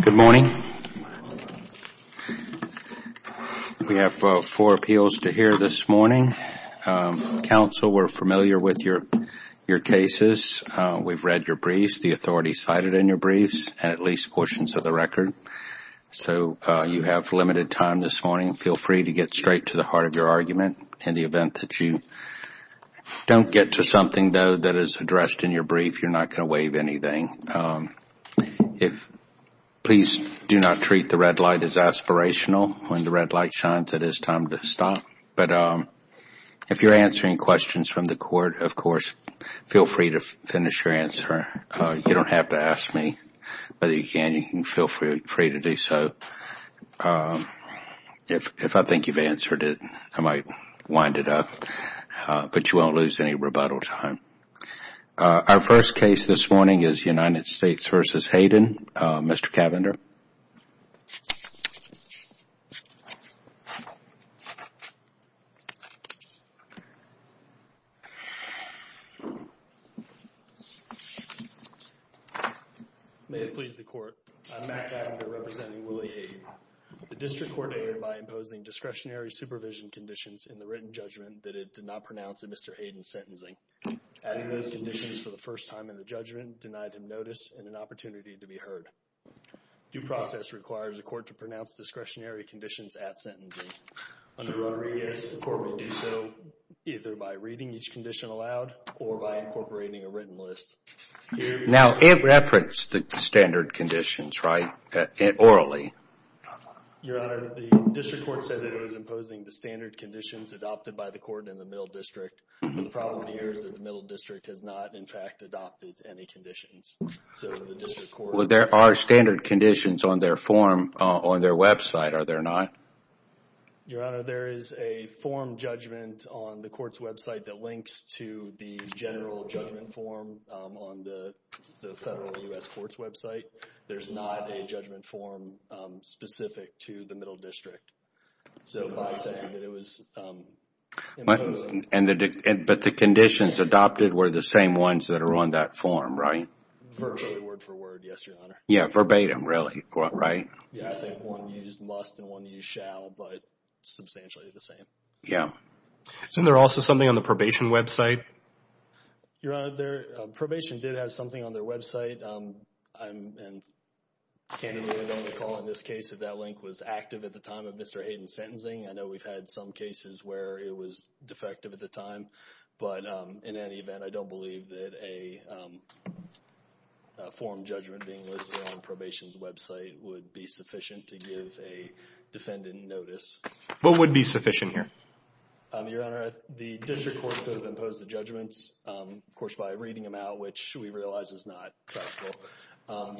Good morning. We have four appeals to hear this morning. Counsel, we're familiar with your cases. We've read your briefs, the authorities cited in your briefs, and at least portions of the record. So you have limited time this morning. Feel free to get straight to the floor of your argument in the event that you don't get to something though that is addressed in your brief, you're not going to waive anything. Please do not treat the red light as aspirational. When the red light shines, it is time to stop. If you're answering questions from the court, of course, feel free to finish your answer. You don't have to ask me, but you can feel free to do so. If I think you've answered it, I might wind it up, but you won't lose any rebuttal time. Our first case this morning is United States v. Hayden. Mr. Cavender. May it please the court. I'm Matt Cavender representing Willie Hayden. The district court acted by imposing discretionary supervision conditions in the written judgment that it did not pronounce in Mr. Hayden's sentencing. Adding those conditions for the first time in the judgment, denied him notice and an opportunity to be heard. Due process requires the court to pronounce discretionary conditions at sentencing. Under Rodriguez, the court would do so either by reading each condition aloud or by incorporating a written list. Now it referenced the standard conditions, right? Orally. Your Honor, the district court said that it was imposing the standard conditions adopted by the court in the middle district, but the problem here is that the middle district has not, in fact, adopted any conditions. So the district court... Well, there are standard conditions on their form on their website, are there not? Your Honor, there is a form judgment on the court's website that links to the general judgment form on the federal U.S. court's website. There's not a judgment form specific to the middle district. So by saying that it was imposed... But the conditions adopted were the same ones that are on that form, right? Verbally, word for word, yes, Your Honor. Yeah, verbatim, really, right? Yeah, I think one used must and one used shall, but substantially the same. Yeah. Isn't there also something on the probation website? Your Honor, probation did have something on their website. I'm candidly going to call on this case if that link was active at the time of Mr. Hayden's sentencing. I know we've had some cases where it was defective at the time, but in any event, I don't believe that a form judgment being listed on probation's website would be sufficient to give a defendant notice. What would be sufficient here? Your Honor, the district court could have imposed the judgments, of course, by reading them out, which we realize is not practical.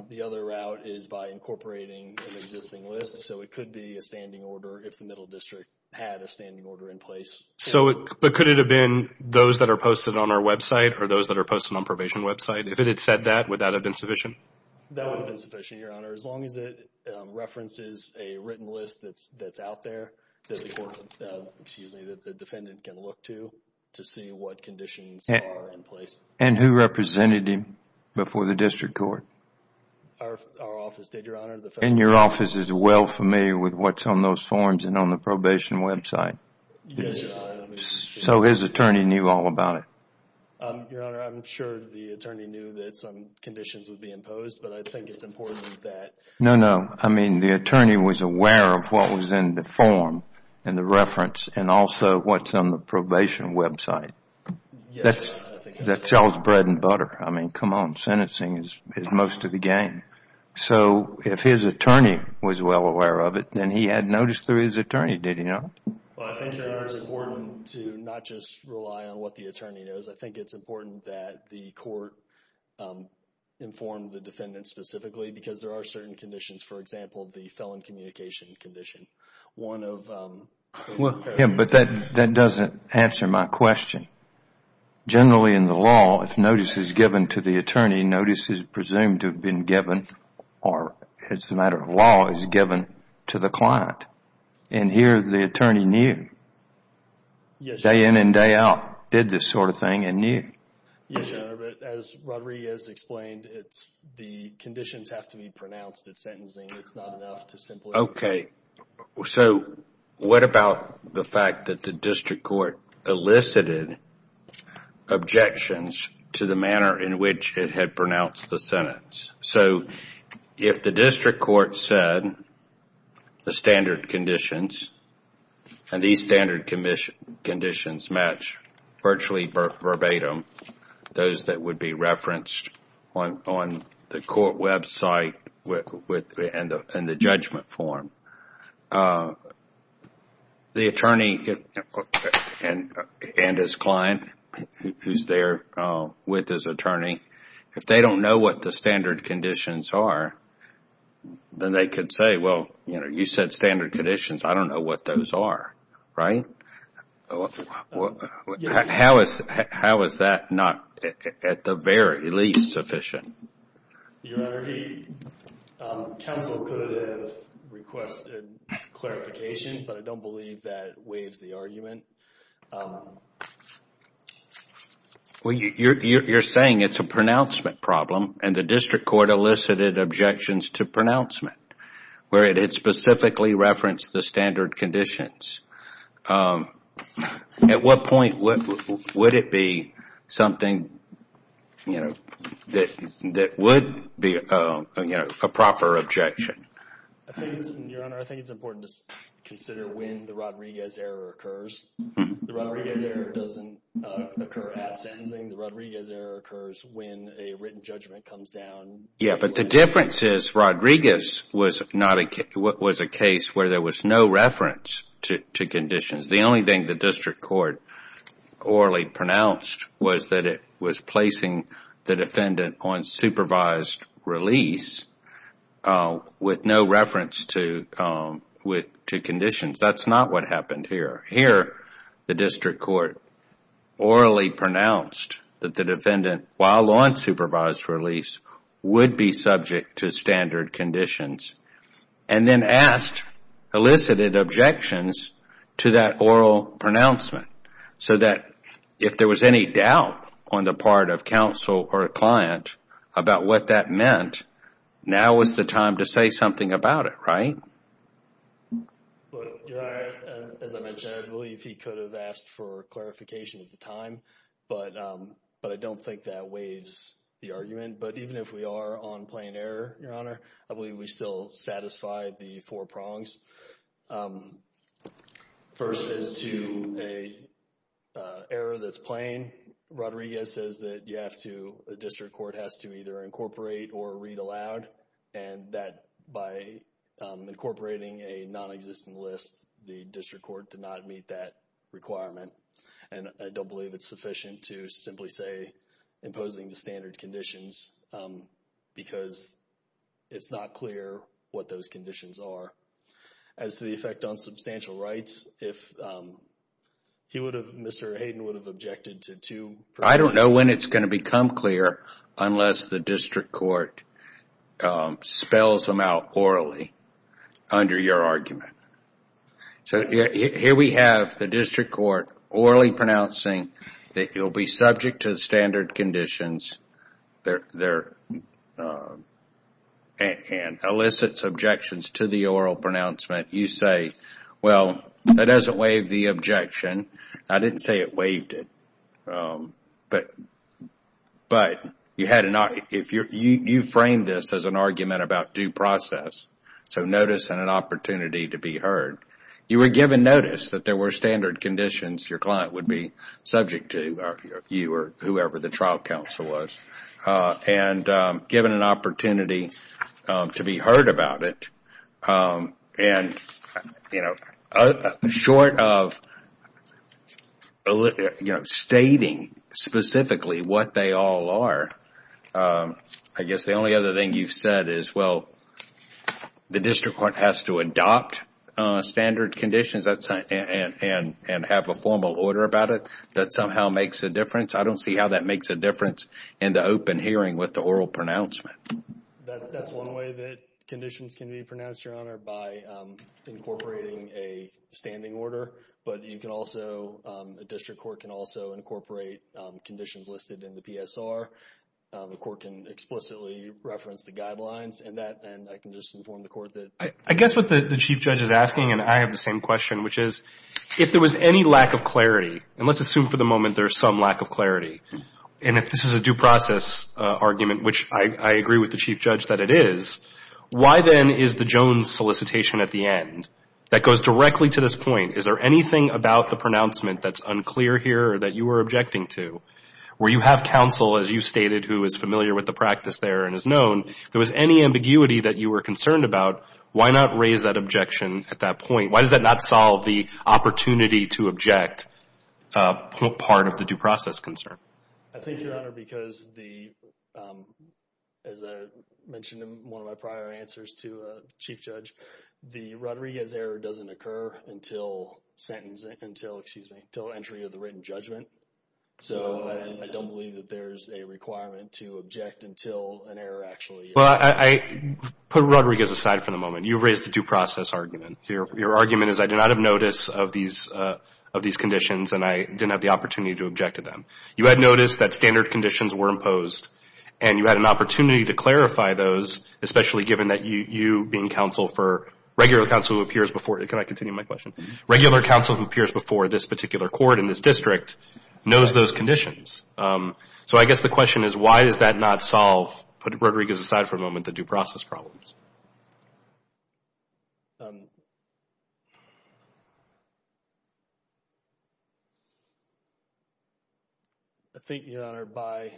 The other route is by incorporating an existing list. So it could be a standing order if the middle district had a standing order in place. But could it have been those that are posted on our website or those that are posted on the probation website? If it had said that, would that have been sufficient? That would have been sufficient, Your Honor, as long as it references a written list that's out there that the defendant can look to to see what conditions are in place. And who represented him before the district court? Our office did, Your Honor. And your office is well familiar with what's on those forms and on the probation website? Yes, Your Honor. So his attorney knew all about it? Your Honor, I'm sure the attorney knew that some conditions would be imposed, but I think it's important that... No, no. I mean, the attorney was aware of what was in the form and the reference and also what's on the probation website. Yes. That sells bread and butter. I mean, come on. Sentencing is most of the game. So if his attorney was well aware of it, then he had notice through his attorney, did he not? Well, I think, Your Honor, it's important to not just rely on what the attorney knows. I think it's important that the court inform the defendant specifically because there are certain conditions. For example, the felon communication condition. One of... Yeah, but that doesn't answer my question. Generally in the law, if notice is given to the attorney, notice is presumed to have been given or, as a matter of law, is given to the client. And here, the attorney knew. Yes, Your Honor. Day in and day out, did this sort of thing and knew. Yes, Your Honor, but as Roderick has explained, the conditions have to be pronounced at sentencing. It's not enough to simply... Okay, so what about the fact that the district court elicited objections to the manner in which it had pronounced the sentence? So, if the district court said the standard conditions, and these standard conditions match virtually verbatim, those that would be referenced on the court website and the judgment form, the attorney and his client, who's there with his attorney, if they don't know what the standard conditions are, then they could say, well, you said standard conditions. I don't know what those are, right? How is that not, at the very least, sufficient? Your Honor, counsel could have requested clarification, but I don't believe that waives the argument. Well, you're saying it's a pronouncement problem, and the district court elicited objections to pronouncement, where it specifically referenced the standard conditions. At what point would it be something that would be a proper objection? Your Honor, I think it's important to consider when the Rodriguez error occurs. The Rodriguez error doesn't occur at sentencing. The Rodriguez error occurs when a written judgment comes down. Yeah, but the difference is Rodriguez was a case where there was no reference to conditions. The only thing the district court orally pronounced was that it was placing the defendant on supervised release with no reference to conditions. That's not what happened here. Here, the district court orally pronounced that the defendant, while on supervised release, would be subject to standard conditions and then asked, elicited objections to that oral pronouncement so that if there was any doubt on the part of counsel or a client about what that meant, now was the time to say something about it, right? As I mentioned, I believe he could have asked for clarification at the time, but I don't think that waives the argument. But even if we are on plain error, Your Honor, I believe we still satisfy the four prongs. First, as to an error that's plain, Rodriguez says that a district court has to either incorporate or read aloud, and that by incorporating a nonexistent list, the district court did not meet that requirement. I don't believe it's sufficient to simply say imposing the standard conditions because it's not clear what those conditions are. As to the effect on substantial rights, Mr. Hayden would have objected to two... I don't know when it's going to become clear unless the district court spells them out orally under your argument. So here we have the district court orally pronouncing that you'll be subject to the standard conditions and elicits objections to the oral pronouncement. You say, well, that doesn't waive the objection. I didn't say it waived it, but you framed this as an argument about due process, so notice and an opportunity to be heard. You were given notice that there were standard conditions your client would be subject to, you or whoever the trial counsel was, and given an opportunity to be heard about it. Short of stating specifically what they all are, I guess the only other thing you've said is, well, the district court has to adopt standard conditions and have a formal order about it that somehow makes a difference. I don't see how that makes a difference in the open hearing with the oral pronouncement. That's one way that conditions can be pronounced, Your Honor, by incorporating a standing order. A district court can also incorporate conditions listed in the PSR. The court can explicitly reference the guidelines in that, and I can just inform the court that... I guess what the Chief Judge is asking, and I have the same question, which is if there was any lack of clarity, and let's assume for the moment there's some lack of clarity, and if this is a due process argument, which I agree with the Chief Judge that it is, why then is the Jones solicitation at the end that goes directly to this point, is there anything about the pronouncement that's unclear here or that you were objecting to, where you have counsel, as you stated, who is familiar with the practice there and is known, if there was any ambiguity that you were concerned about, why not raise that objection at that point? Why does that not solve the opportunity to object part of the due process concern? I think, Your Honor, because as I mentioned in one of my prior answers to the Chief Judge, the Rodriguez error doesn't occur until entry of the written judgment. So I don't believe that there's a requirement to object until an error actually occurs. Well, I put Rodriguez aside for the moment. You raised the due process argument. Your argument is I did not have notice of these conditions, and I didn't have the opportunity to object to them. You had noticed that standard conditions were imposed, and you had an opportunity to clarify those, especially given that you being counsel for regular counsel who appears before... Can I continue my question? Regular counsel who appears before this particular court in this district knows those conditions. So I guess the question is, why does that not solve, put Rodriguez aside for a moment, the due process problems? I think, Your Honor, by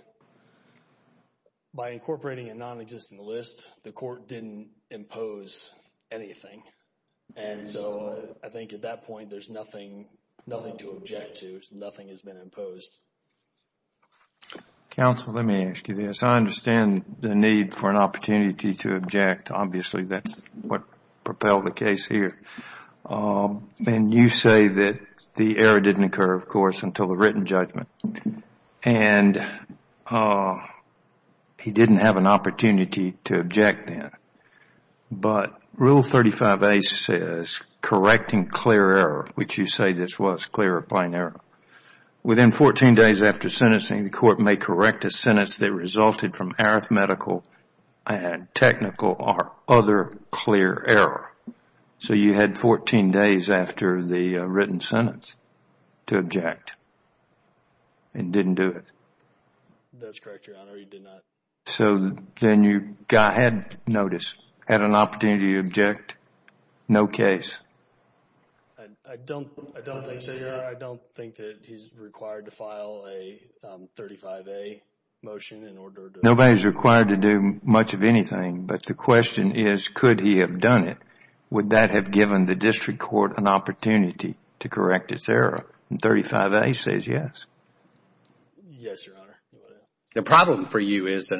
incorporating a non-existent list, the court didn't impose anything. And so I think at that point, there's nothing to object to. Nothing has been imposed. Counsel, let me ask you this. I understand the need for an opportunity to object. Obviously, that's what propelled the case here. And you say that the error didn't occur, of course, until the written judgment. He didn't have an opportunity to object then. But Rule 35A says, correcting clear error, which you say this was clear or plain error. Within 14 days after sentencing, the court may correct a sentence that resulted from arithmetical and technical or other clear error. So you had 14 days after the written sentence to object. It didn't do it. That's correct, Your Honor. It did not. So then you had notice, had an opportunity to object. No case. I don't think so, Your Honor. I don't think that he's required to file a 35A motion in order to... Nobody's required to do much of anything. But the question is, could he have done it? Would that have given the district court an opportunity to correct its error? And 35A says yes. Yes, Your Honor. The problem for you is,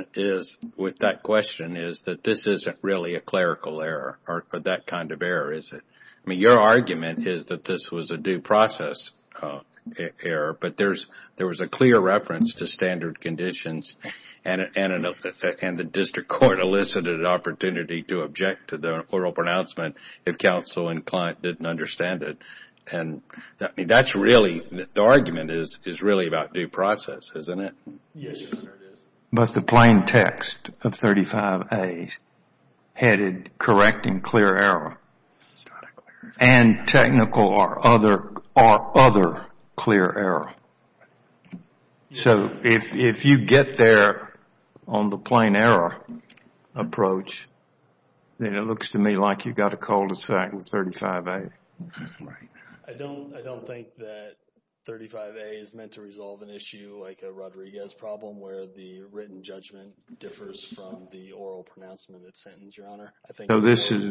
with that question, is that this isn't really a clerical error or that kind of error, is it? I mean, your argument is that this was a due process error, but there was a clear reference to standard conditions and the district court elicited an opportunity to object to the oral pronouncement if counsel and client didn't understand it. And that's really, the argument is really about due process, isn't it? Yes, Your Honor, it is. But the plain text of 35A headed correct and clear error and technical or other clear error. So if you get there on the plain error approach, then it looks to me like you've got a cul-de-sac with 35A. I don't think that 35A is meant to resolve an issue like a Rodriguez problem where the written judgment differs from the oral pronouncement of the sentence, Your Honor. So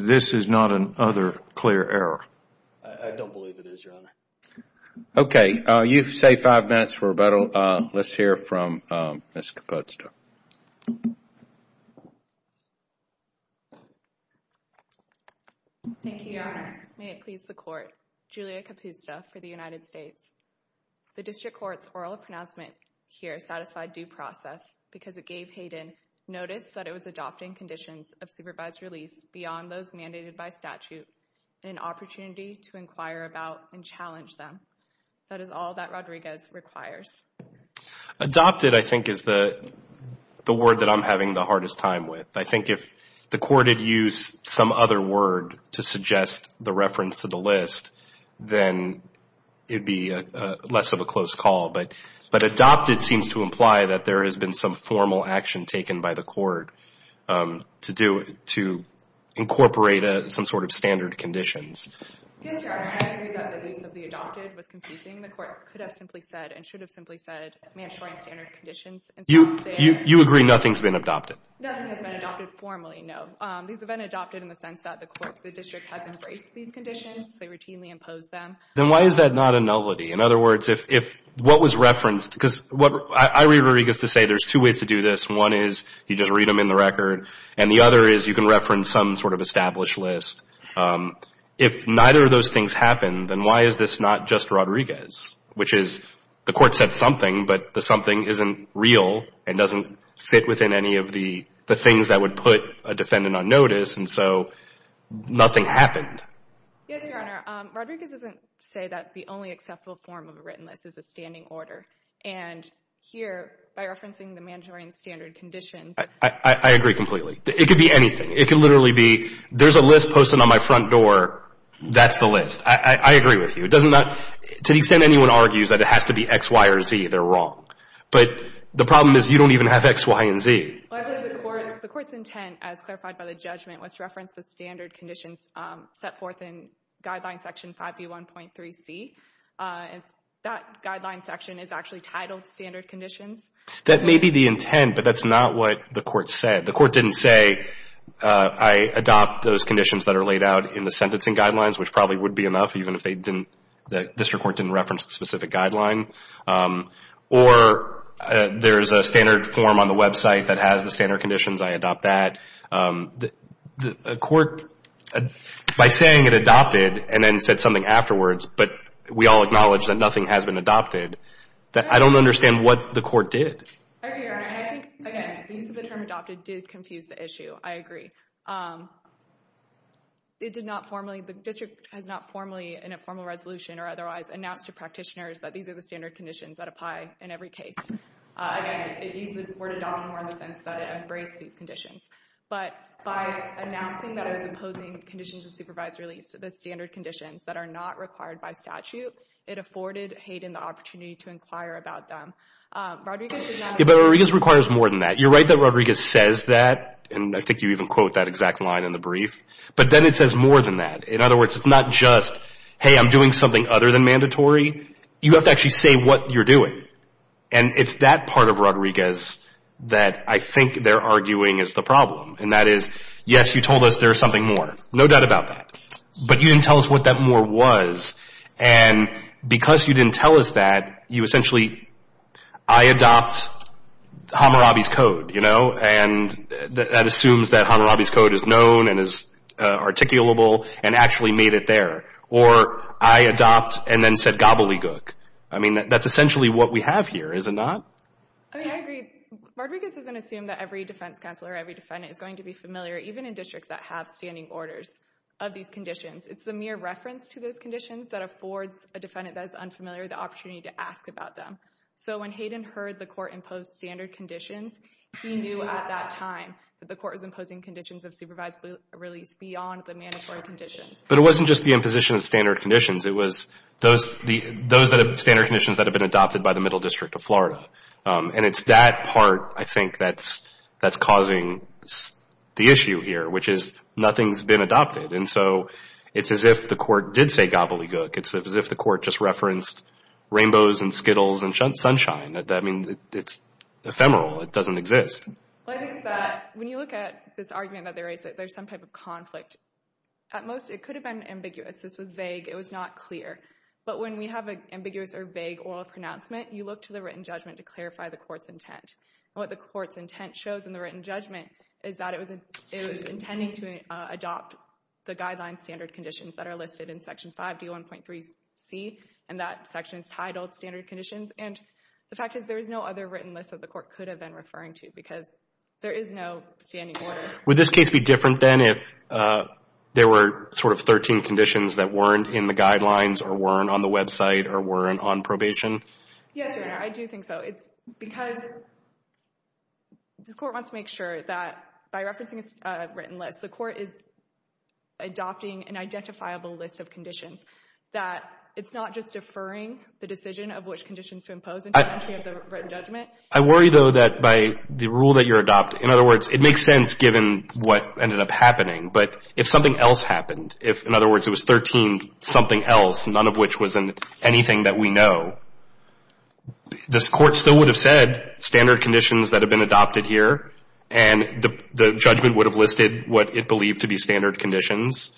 this is not an other clear error? I don't believe it is, Your Honor. Okay, you've saved five minutes for rebuttal. Let's hear from Ms. Kapusta. Thank you, Your Honor. May it please the Court, Julia Kapusta for the United States. The district court's oral pronouncement here satisfied due process because it gave Hayden notice that it was adopting conditions of supervised release beyond those mandated by statute and an opportunity to inquire about and challenge them. That is all that Rodriguez requires. Adopted, I think, is the word that I'm having the hardest time with. I think if the Court had used some other word to suggest the reference to the list, then it would be less of a close call. But adopted seems to imply that there has been some formal action taken by the Court to incorporate some sort of standard conditions. Yes, Your Honor, I agree that the use of the adopted was confusing. The Court could have simply said and should have simply said mandatory and standard conditions. You agree nothing's been adopted? Nothing has been adopted formally, no. These have been adopted in the sense that the Court, the district has embraced these conditions. They routinely impose them. Then why is that not a nullity? In other words, if what was referenced, because I read Rodriguez to say there's two ways to do this. One is you just read them in the record and the other is you can reference some sort of established list. If neither of those things happened, then why is this not just Rodriguez? Which is, the Court said something, but the something isn't real and doesn't fit within any of the things that would put a defendant on notice, and so nothing happened. Yes, Your Honor. Rodriguez doesn't say that the only acceptable form of a written list is a standing order. And here, by referencing the mandatory and standard conditions. I agree completely. It could be anything. It could literally be there's a list posted on my front door. That's the list. I agree with you. To the extent anyone argues that it has to be X, Y, or Z, they're wrong. But the problem is you don't even have X, Y, and Z. The Court's intent, as clarified by the judgment, was to reference the standard conditions set forth in Guideline Section 5B1.3C. That guideline section is actually titled Standard Conditions. That may be the intent, but that's not what the Court said. The Court didn't say, I adopt those conditions that are laid out in the sentencing guidelines, which probably would be enough, even if the District Court didn't reference the specific guideline. Or there's a standard form on the website that has the standard conditions. I adopt that. The Court, by saying it adopted and then said something afterwards, but we all acknowledge that nothing has been adopted, I don't understand what the Court did. I agree, Your Honor. I think, again, the use of the term adopted did confuse the issue. I agree. It did not formally, the District has not formally, in a formal resolution or otherwise, announced to practitioners that these are the standard conditions that apply in every case. Again, it used the word adopted more in the sense that it embraced these conditions. But by announcing that it was imposing conditions of supervised release, the standard conditions that are not required by statute, it afforded Hayden the opportunity to inquire about them. Rodriguez does not... Yeah, but Rodriguez requires more than that. You're right that Rodriguez says that, and I think you even quote that exact line in the brief. But then it says more than that. In other words, it's not just, hey, I'm doing something other than mandatory. You have to actually say what you're doing. And it's that part of Rodriguez that I think they're arguing is the problem. And that is, yes, you told us there's something more. No doubt about that. But you didn't tell us what that more was. And because you didn't tell us that, you essentially, I adopt Hammurabi's Code. And that assumes that Hammurabi's Code is known and is articulable and actually made it there. Or I adopt and then said gobbledygook. I mean, that's essentially what we have here, is it not? I mean, I agree. Rodriguez doesn't assume that every defense counsel or every defendant is going to be familiar, even in districts that have standing orders of these conditions. It's the mere reference to those conditions that affords a defendant that is unfamiliar the opportunity to ask about them. So when Hayden heard the court impose standard conditions, he knew at that time that the court was imposing conditions of supervised release beyond the mandatory conditions. But it wasn't just the imposition of standard conditions. It was those standard conditions that have been adopted by the Middle District of Florida. And it's that part, I think, that's causing the issue here, which is nothing's been adopted. And so it's as if the court did say gobbledygook. It's as if the court just referenced rainbows and skittles and sunshine. I mean, it's ephemeral. It doesn't exist. I think that when you look at this argument that there's some type of conflict, at most it could have been ambiguous. This was vague. It was not clear. But when we have an ambiguous or vague oral pronouncement, you look to the written judgment to clarify the court's intent. And what the court's intent shows in the written judgment is that it was intending to adopt the guideline standard conditions that are listed in Section 5D1.3C and that section is titled standard conditions. And the fact is there is no other written list that the court could have been referring to because there is no standing order. Would this case be different then if there were sort of 13 conditions that weren't in the guidelines or weren't on the website or weren't on probation? Yes, Your Honor. I do think so. It's because the court wants to make sure that by referencing a written list, the court is adopting an identifiable list of conditions, that it's not just deferring the decision of which conditions to impose into the entry of the written judgment. I worry, though, that by the rule that you're adopting, in other words, it makes sense given what ended up happening. But if something else happened, if, in other words, it was 13 something else, none of which was anything that we know, this Court still would have said standard conditions that have been adopted here and the judgment would have listed what it believed to be standard conditions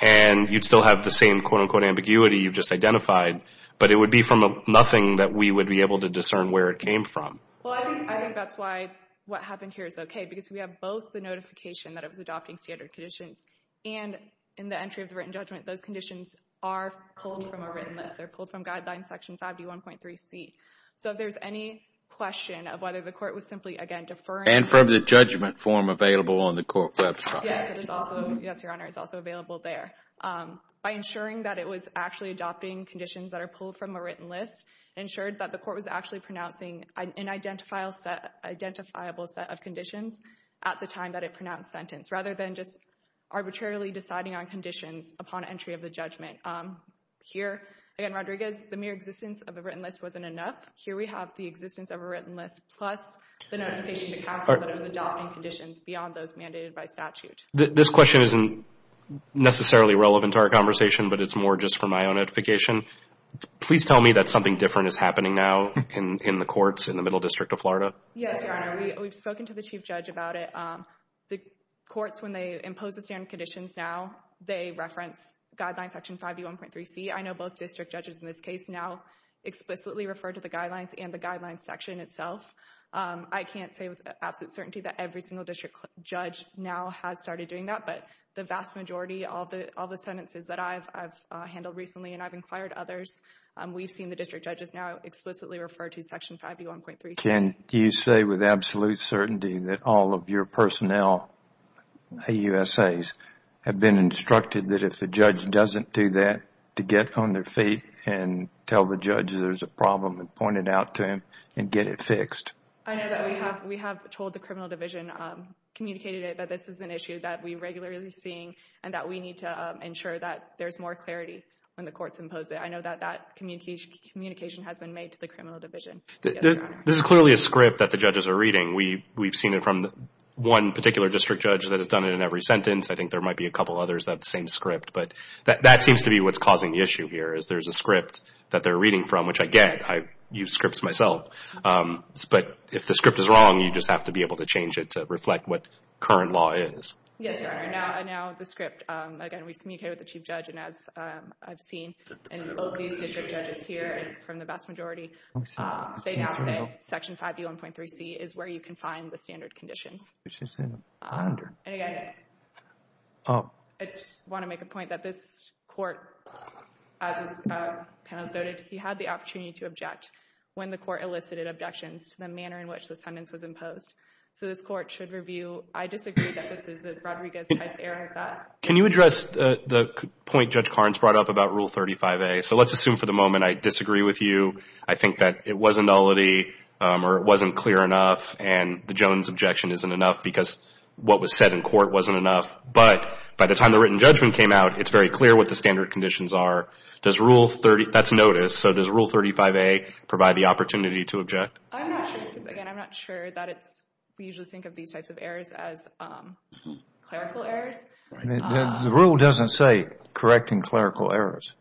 and you'd still have the same quote-unquote ambiguity you've just identified. But it would be from nothing that we would be able to discern where it came from. Well, I think that's why what happened here is okay because we have both the notification that it was adopting standard conditions and in the entry of the written judgment, those conditions are pulled from a written list. They're pulled from Guidelines Section 51.3c. So if there's any question of whether the court was simply, again, deferring. And from the judgment form available on the court website. Yes, Your Honor, it's also available there. By ensuring that it was actually adopting conditions that are pulled from a written list, it ensured that the court was actually pronouncing an identifiable set of conditions at the time that it pronounced sentence rather than just arbitrarily deciding on conditions upon entry of the judgment. Here, again, Rodriguez, the mere existence of a written list wasn't enough. Here we have the existence of a written list plus the notification to counsel that it was adopting conditions beyond those mandated by statute. This question isn't necessarily relevant to our conversation, but it's more just for my own edification. Please tell me that something different is happening now in the courts in the middle district of Florida. Yes, Your Honor. We've spoken to the Chief Judge about it. The courts, when they impose the standard conditions now, they reference Guidelines Section 51.3c. I know both district judges in this case now explicitly refer to the Guidelines and the Guidelines section itself. I can't say with absolute certainty that every single district judge now has started doing that, but the vast majority of the sentences that I've handled recently and I've inquired others, we've seen the district judges now explicitly refer to Section 51.3c. Can you say with absolute certainty that all of your personnel, AUSAs, have been instructed that if the judge doesn't do that to get on their feet and tell the judge there's a problem and point it out to him and get it fixed? I know that we have told the Criminal Division, communicated it, that this is an issue that we're regularly seeing and that we need to ensure that there's more clarity when the courts impose it. I know that that communication has been made to the Criminal Division. This is clearly a script that the judges are reading. We've seen it from one particular district judge that has done it in every sentence. I think there might be a couple others that have the same script, but that seems to be what's causing the issue here is there's a script that they're reading from, which I get. I use scripts myself, but if the script is wrong, you just have to be able to change it to reflect what current law is. Yes, Your Honor. Now the script, again, we've communicated with the Chief Judge and as I've seen in both these district judges here and from the vast majority, they now say Section 51.3c is where you can find the standard conditions. I just want to make a point that this court as this panel has noted, he had the opportunity to object when the court elicited objections to the manner in which this sentence was imposed. So this court should review. I disagree that this is the Rodriguez type error of that. Can you address the point Judge Carnes brought up about Rule 35a? So let's assume for the moment I disagree with you. I think that it was an nullity or it wasn't clear enough and the Jones objection isn't enough because what was said in court wasn't enough, but by the time the written judgment came out, it's very clear what the standard conditions are. Does Rule 35a provide the opportunity to object? I'm not sure. Again, I'm not sure that we usually think of these types of errors as clerical errors. The rule doesn't say correcting clerical errors.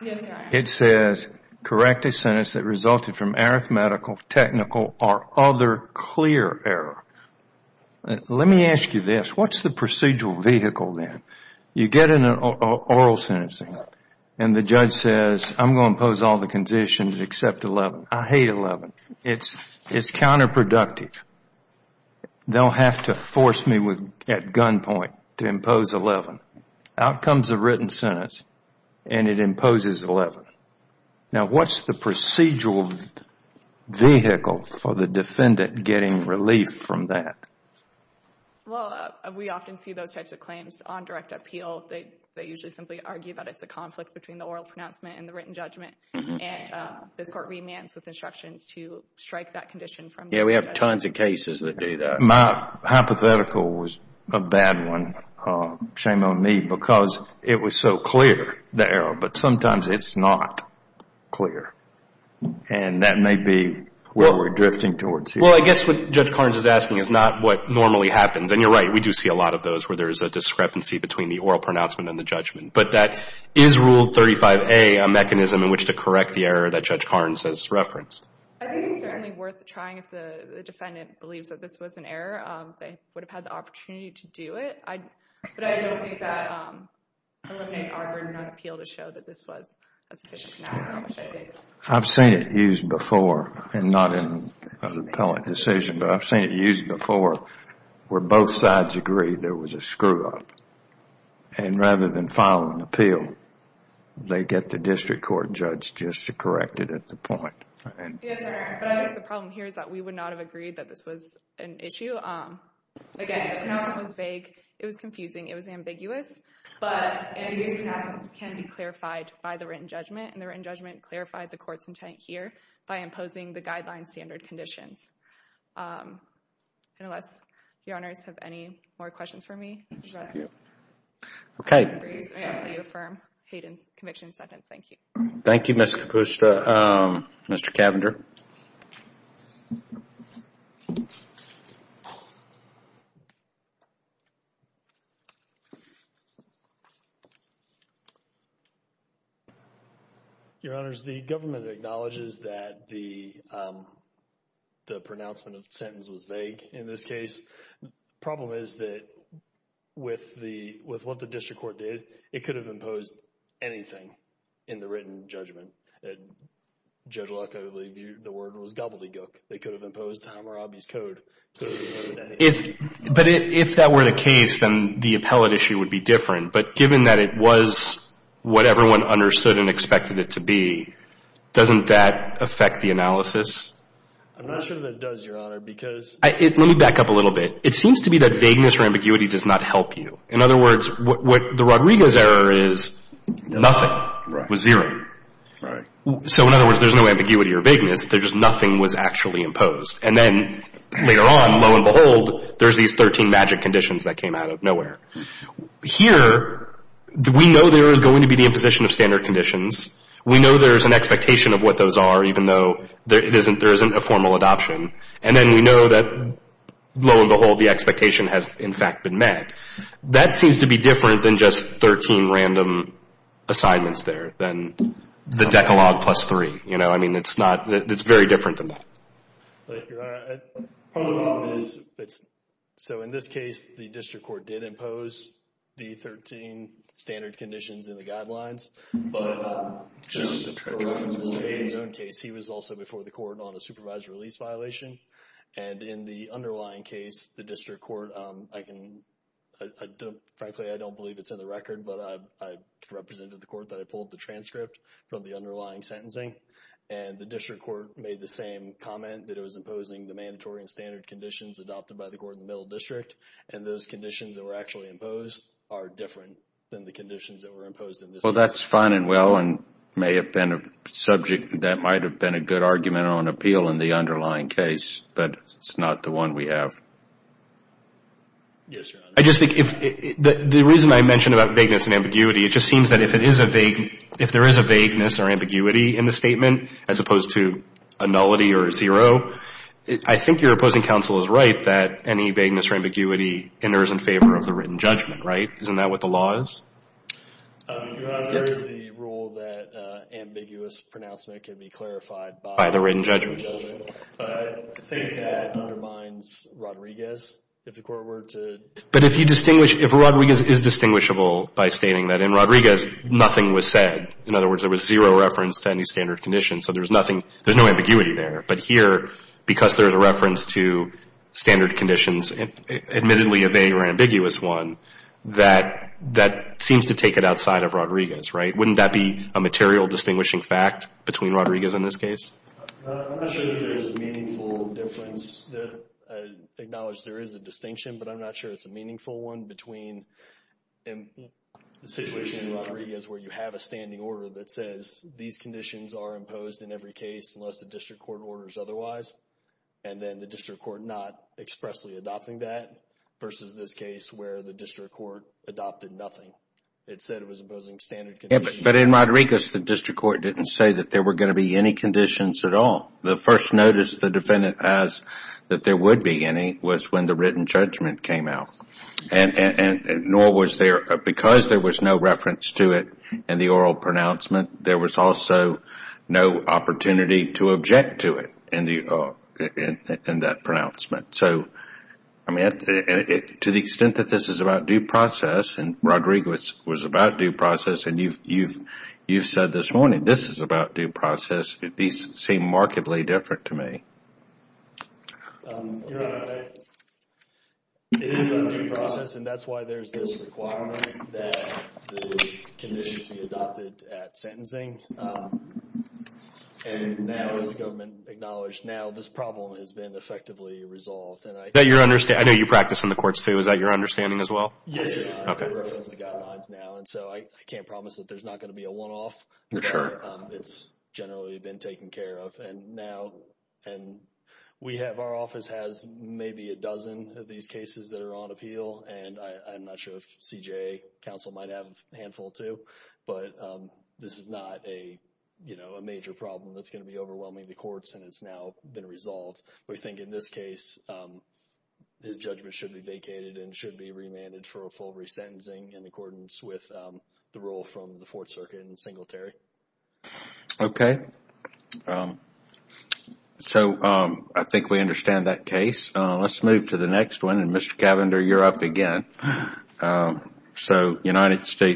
It says correct a sentence that resulted from arithmetical, technical, or other clear error. Let me ask you this. What's the procedural vehicle then? You get into oral sentencing and the judge says, I'm going to impose all the conditions except 11. I hate 11. It's counterproductive. They'll have to force me at gunpoint to impose 11. Out comes a written sentence and it imposes 11. Now what's the procedural vehicle for the defendant getting relief from that? Well, we often see those types of claims on direct appeal. They usually simply argue that it's a conflict between the oral pronouncement and the written judgment and this court remands with instructions to strike that condition from the judge. Yeah, we have tons of cases that do that. My hypothetical was a bad one. Shame on me because it was so clear, the error, but sometimes it's not clear and that may be what we're drifting towards here. Well, I guess what Judge Carnes is asking is not what normally happens. And you're right, we do see a lot of those where there is a discrepancy between the oral pronouncement and the judgment. But that is Rule 35A, a mechanism in which to correct the error that Judge Carnes has referenced. I think it's certainly worth trying if the defendant believes that this was an error. They would have had the opportunity to do it. But I don't think that Olympia and Auburn would appeal to show that this was a sufficient pronouncement. I've seen it used before and not in an appellate decision, but I've seen it used before where both sides agree there was a screw-up and rather than filing an appeal, they get the district court judge just to correct it at the point. Yes, sir. But I think the problem here is that we would not have agreed that this was an issue. Again, the pronouncement was vague, it was confusing, it was ambiguous, but ambiguous pronouncements can be clarified by the written judgment and the written judgment clarified the court's intent here by imposing the guideline standard conditions. And unless your honors have any more questions for me, I will ask you to affirm Hayden's conviction sentence. Thank you. Thank you, Ms. Kapusta. Mr. Cavender. Your honors, the government acknowledges that the pronouncement of the sentence was vague in this case. The problem is that with what the district court did, it could have imposed anything in the written judgment that Judge Locke would leave you with. The word was gobbledygook. They could have imposed Hammurabi's code. But if that were the case, then the appellate issue would be different. But given that it was what everyone understood and expected it to be, doesn't that affect the analysis? I'm not sure that it does, your honor, because... Let me back up a little bit. It seems to be that vagueness or ambiguity does not help you. In other words, what the Rodriguez error is, nothing was zero. So in other words, there's no ambiguity or vagueness. There's just nothing was actually imposed. And then later on, lo and behold, there's these 13 magic conditions that came out of nowhere. Here, we know there is going to be the imposition of standard conditions. We know there's an expectation of what those are, even though there isn't a formal adoption. And then we know that, lo and behold, the expectation has in fact been met. That seems to be different than just 13 random assignments there, than the decalogue plus three. I mean, it's very different than that. So in this case, the district court did impose the 13 standard conditions in the guidelines. But just for reference, in Mr. Hayden's own case, he was also before the court on a supervised release violation. And in the underlying case, the district court... Frankly, I don't believe it's in the record, but I represented the court that I pulled the transcript from the underlying sentencing. And the district court made the same comment that it was imposing the mandatory and standard conditions adopted by the court in the middle district. And those conditions that were actually imposed are different than the conditions that were imposed in this case. Well, that's fine and well and may have been a subject that might have been a good argument on appeal in the underlying case. But it's not the one we have. The reason I mentioned about vagueness and ambiguity, it just seems that if there is a vagueness or ambiguity in the statement, as opposed to a nullity or a zero, I think your opposing counsel is right that any vagueness or ambiguity enters in favor of the written judgment, right? Isn't that what the law is? Your Honor, there is the rule that ambiguous pronouncement can be clarified by the written judgment. I think that undermines Rodriguez. But if you distinguish, if Rodriguez is distinguishable by stating that in Rodriguez nothing was said, in other words, there was zero reference to any standard conditions, so there's nothing, there's no ambiguity there. But here, because there's a reference to standard conditions, admittedly a vague or ambiguous one, that seems to take it outside of Rodriguez, right? Wouldn't that be a material distinguishing fact between Rodriguez and this case? I'm not sure that there's a meaningful difference. I acknowledge there is a distinction, but I'm not sure it's a meaningful one between the situation in Rodriguez where you have a standing order that says these conditions are imposed in every case unless the district court orders otherwise, and then the district court not expressly adopting that, versus this case where the district court adopted nothing. It said it was imposing standard conditions. But in Rodriguez, the district court didn't say that there were going to be any conditions at all. The first notice the defendant has that there would be any was when the written judgment came out. Nor was there, because there was no reference to it in the oral pronouncement, there was also no opportunity to object to it in that pronouncement. To the extent that this is about due process, and Rodriguez was about due process, and you've said this morning, this is about due process. These seem markedly different to me. Your Honor, it is about due process, and that's why there's this requirement that the conditions be adopted at sentencing. And now as the government acknowledged, now this problem has been effectively resolved. I know you practice in the courts too. Is that your understanding as well? Yes, sir. There are no reference to guidelines now, and so I can't promise that there's not going to be a one-off. It's generally been taken care of. Our office has maybe a dozen of these cases that are on appeal, and I'm not sure if CJA counsel might have a handful too. But this is not a major problem that's going to be overwhelming the courts, and it's now been resolved. We think in this case, his judgment should be evaluated and should be remanded for a full resentencing in accordance with the rule from the Fourth Circuit and Singletary. Okay. So I think we understand that case. Let's move to the next one, and Mr. Cavender, you're up again. So United States...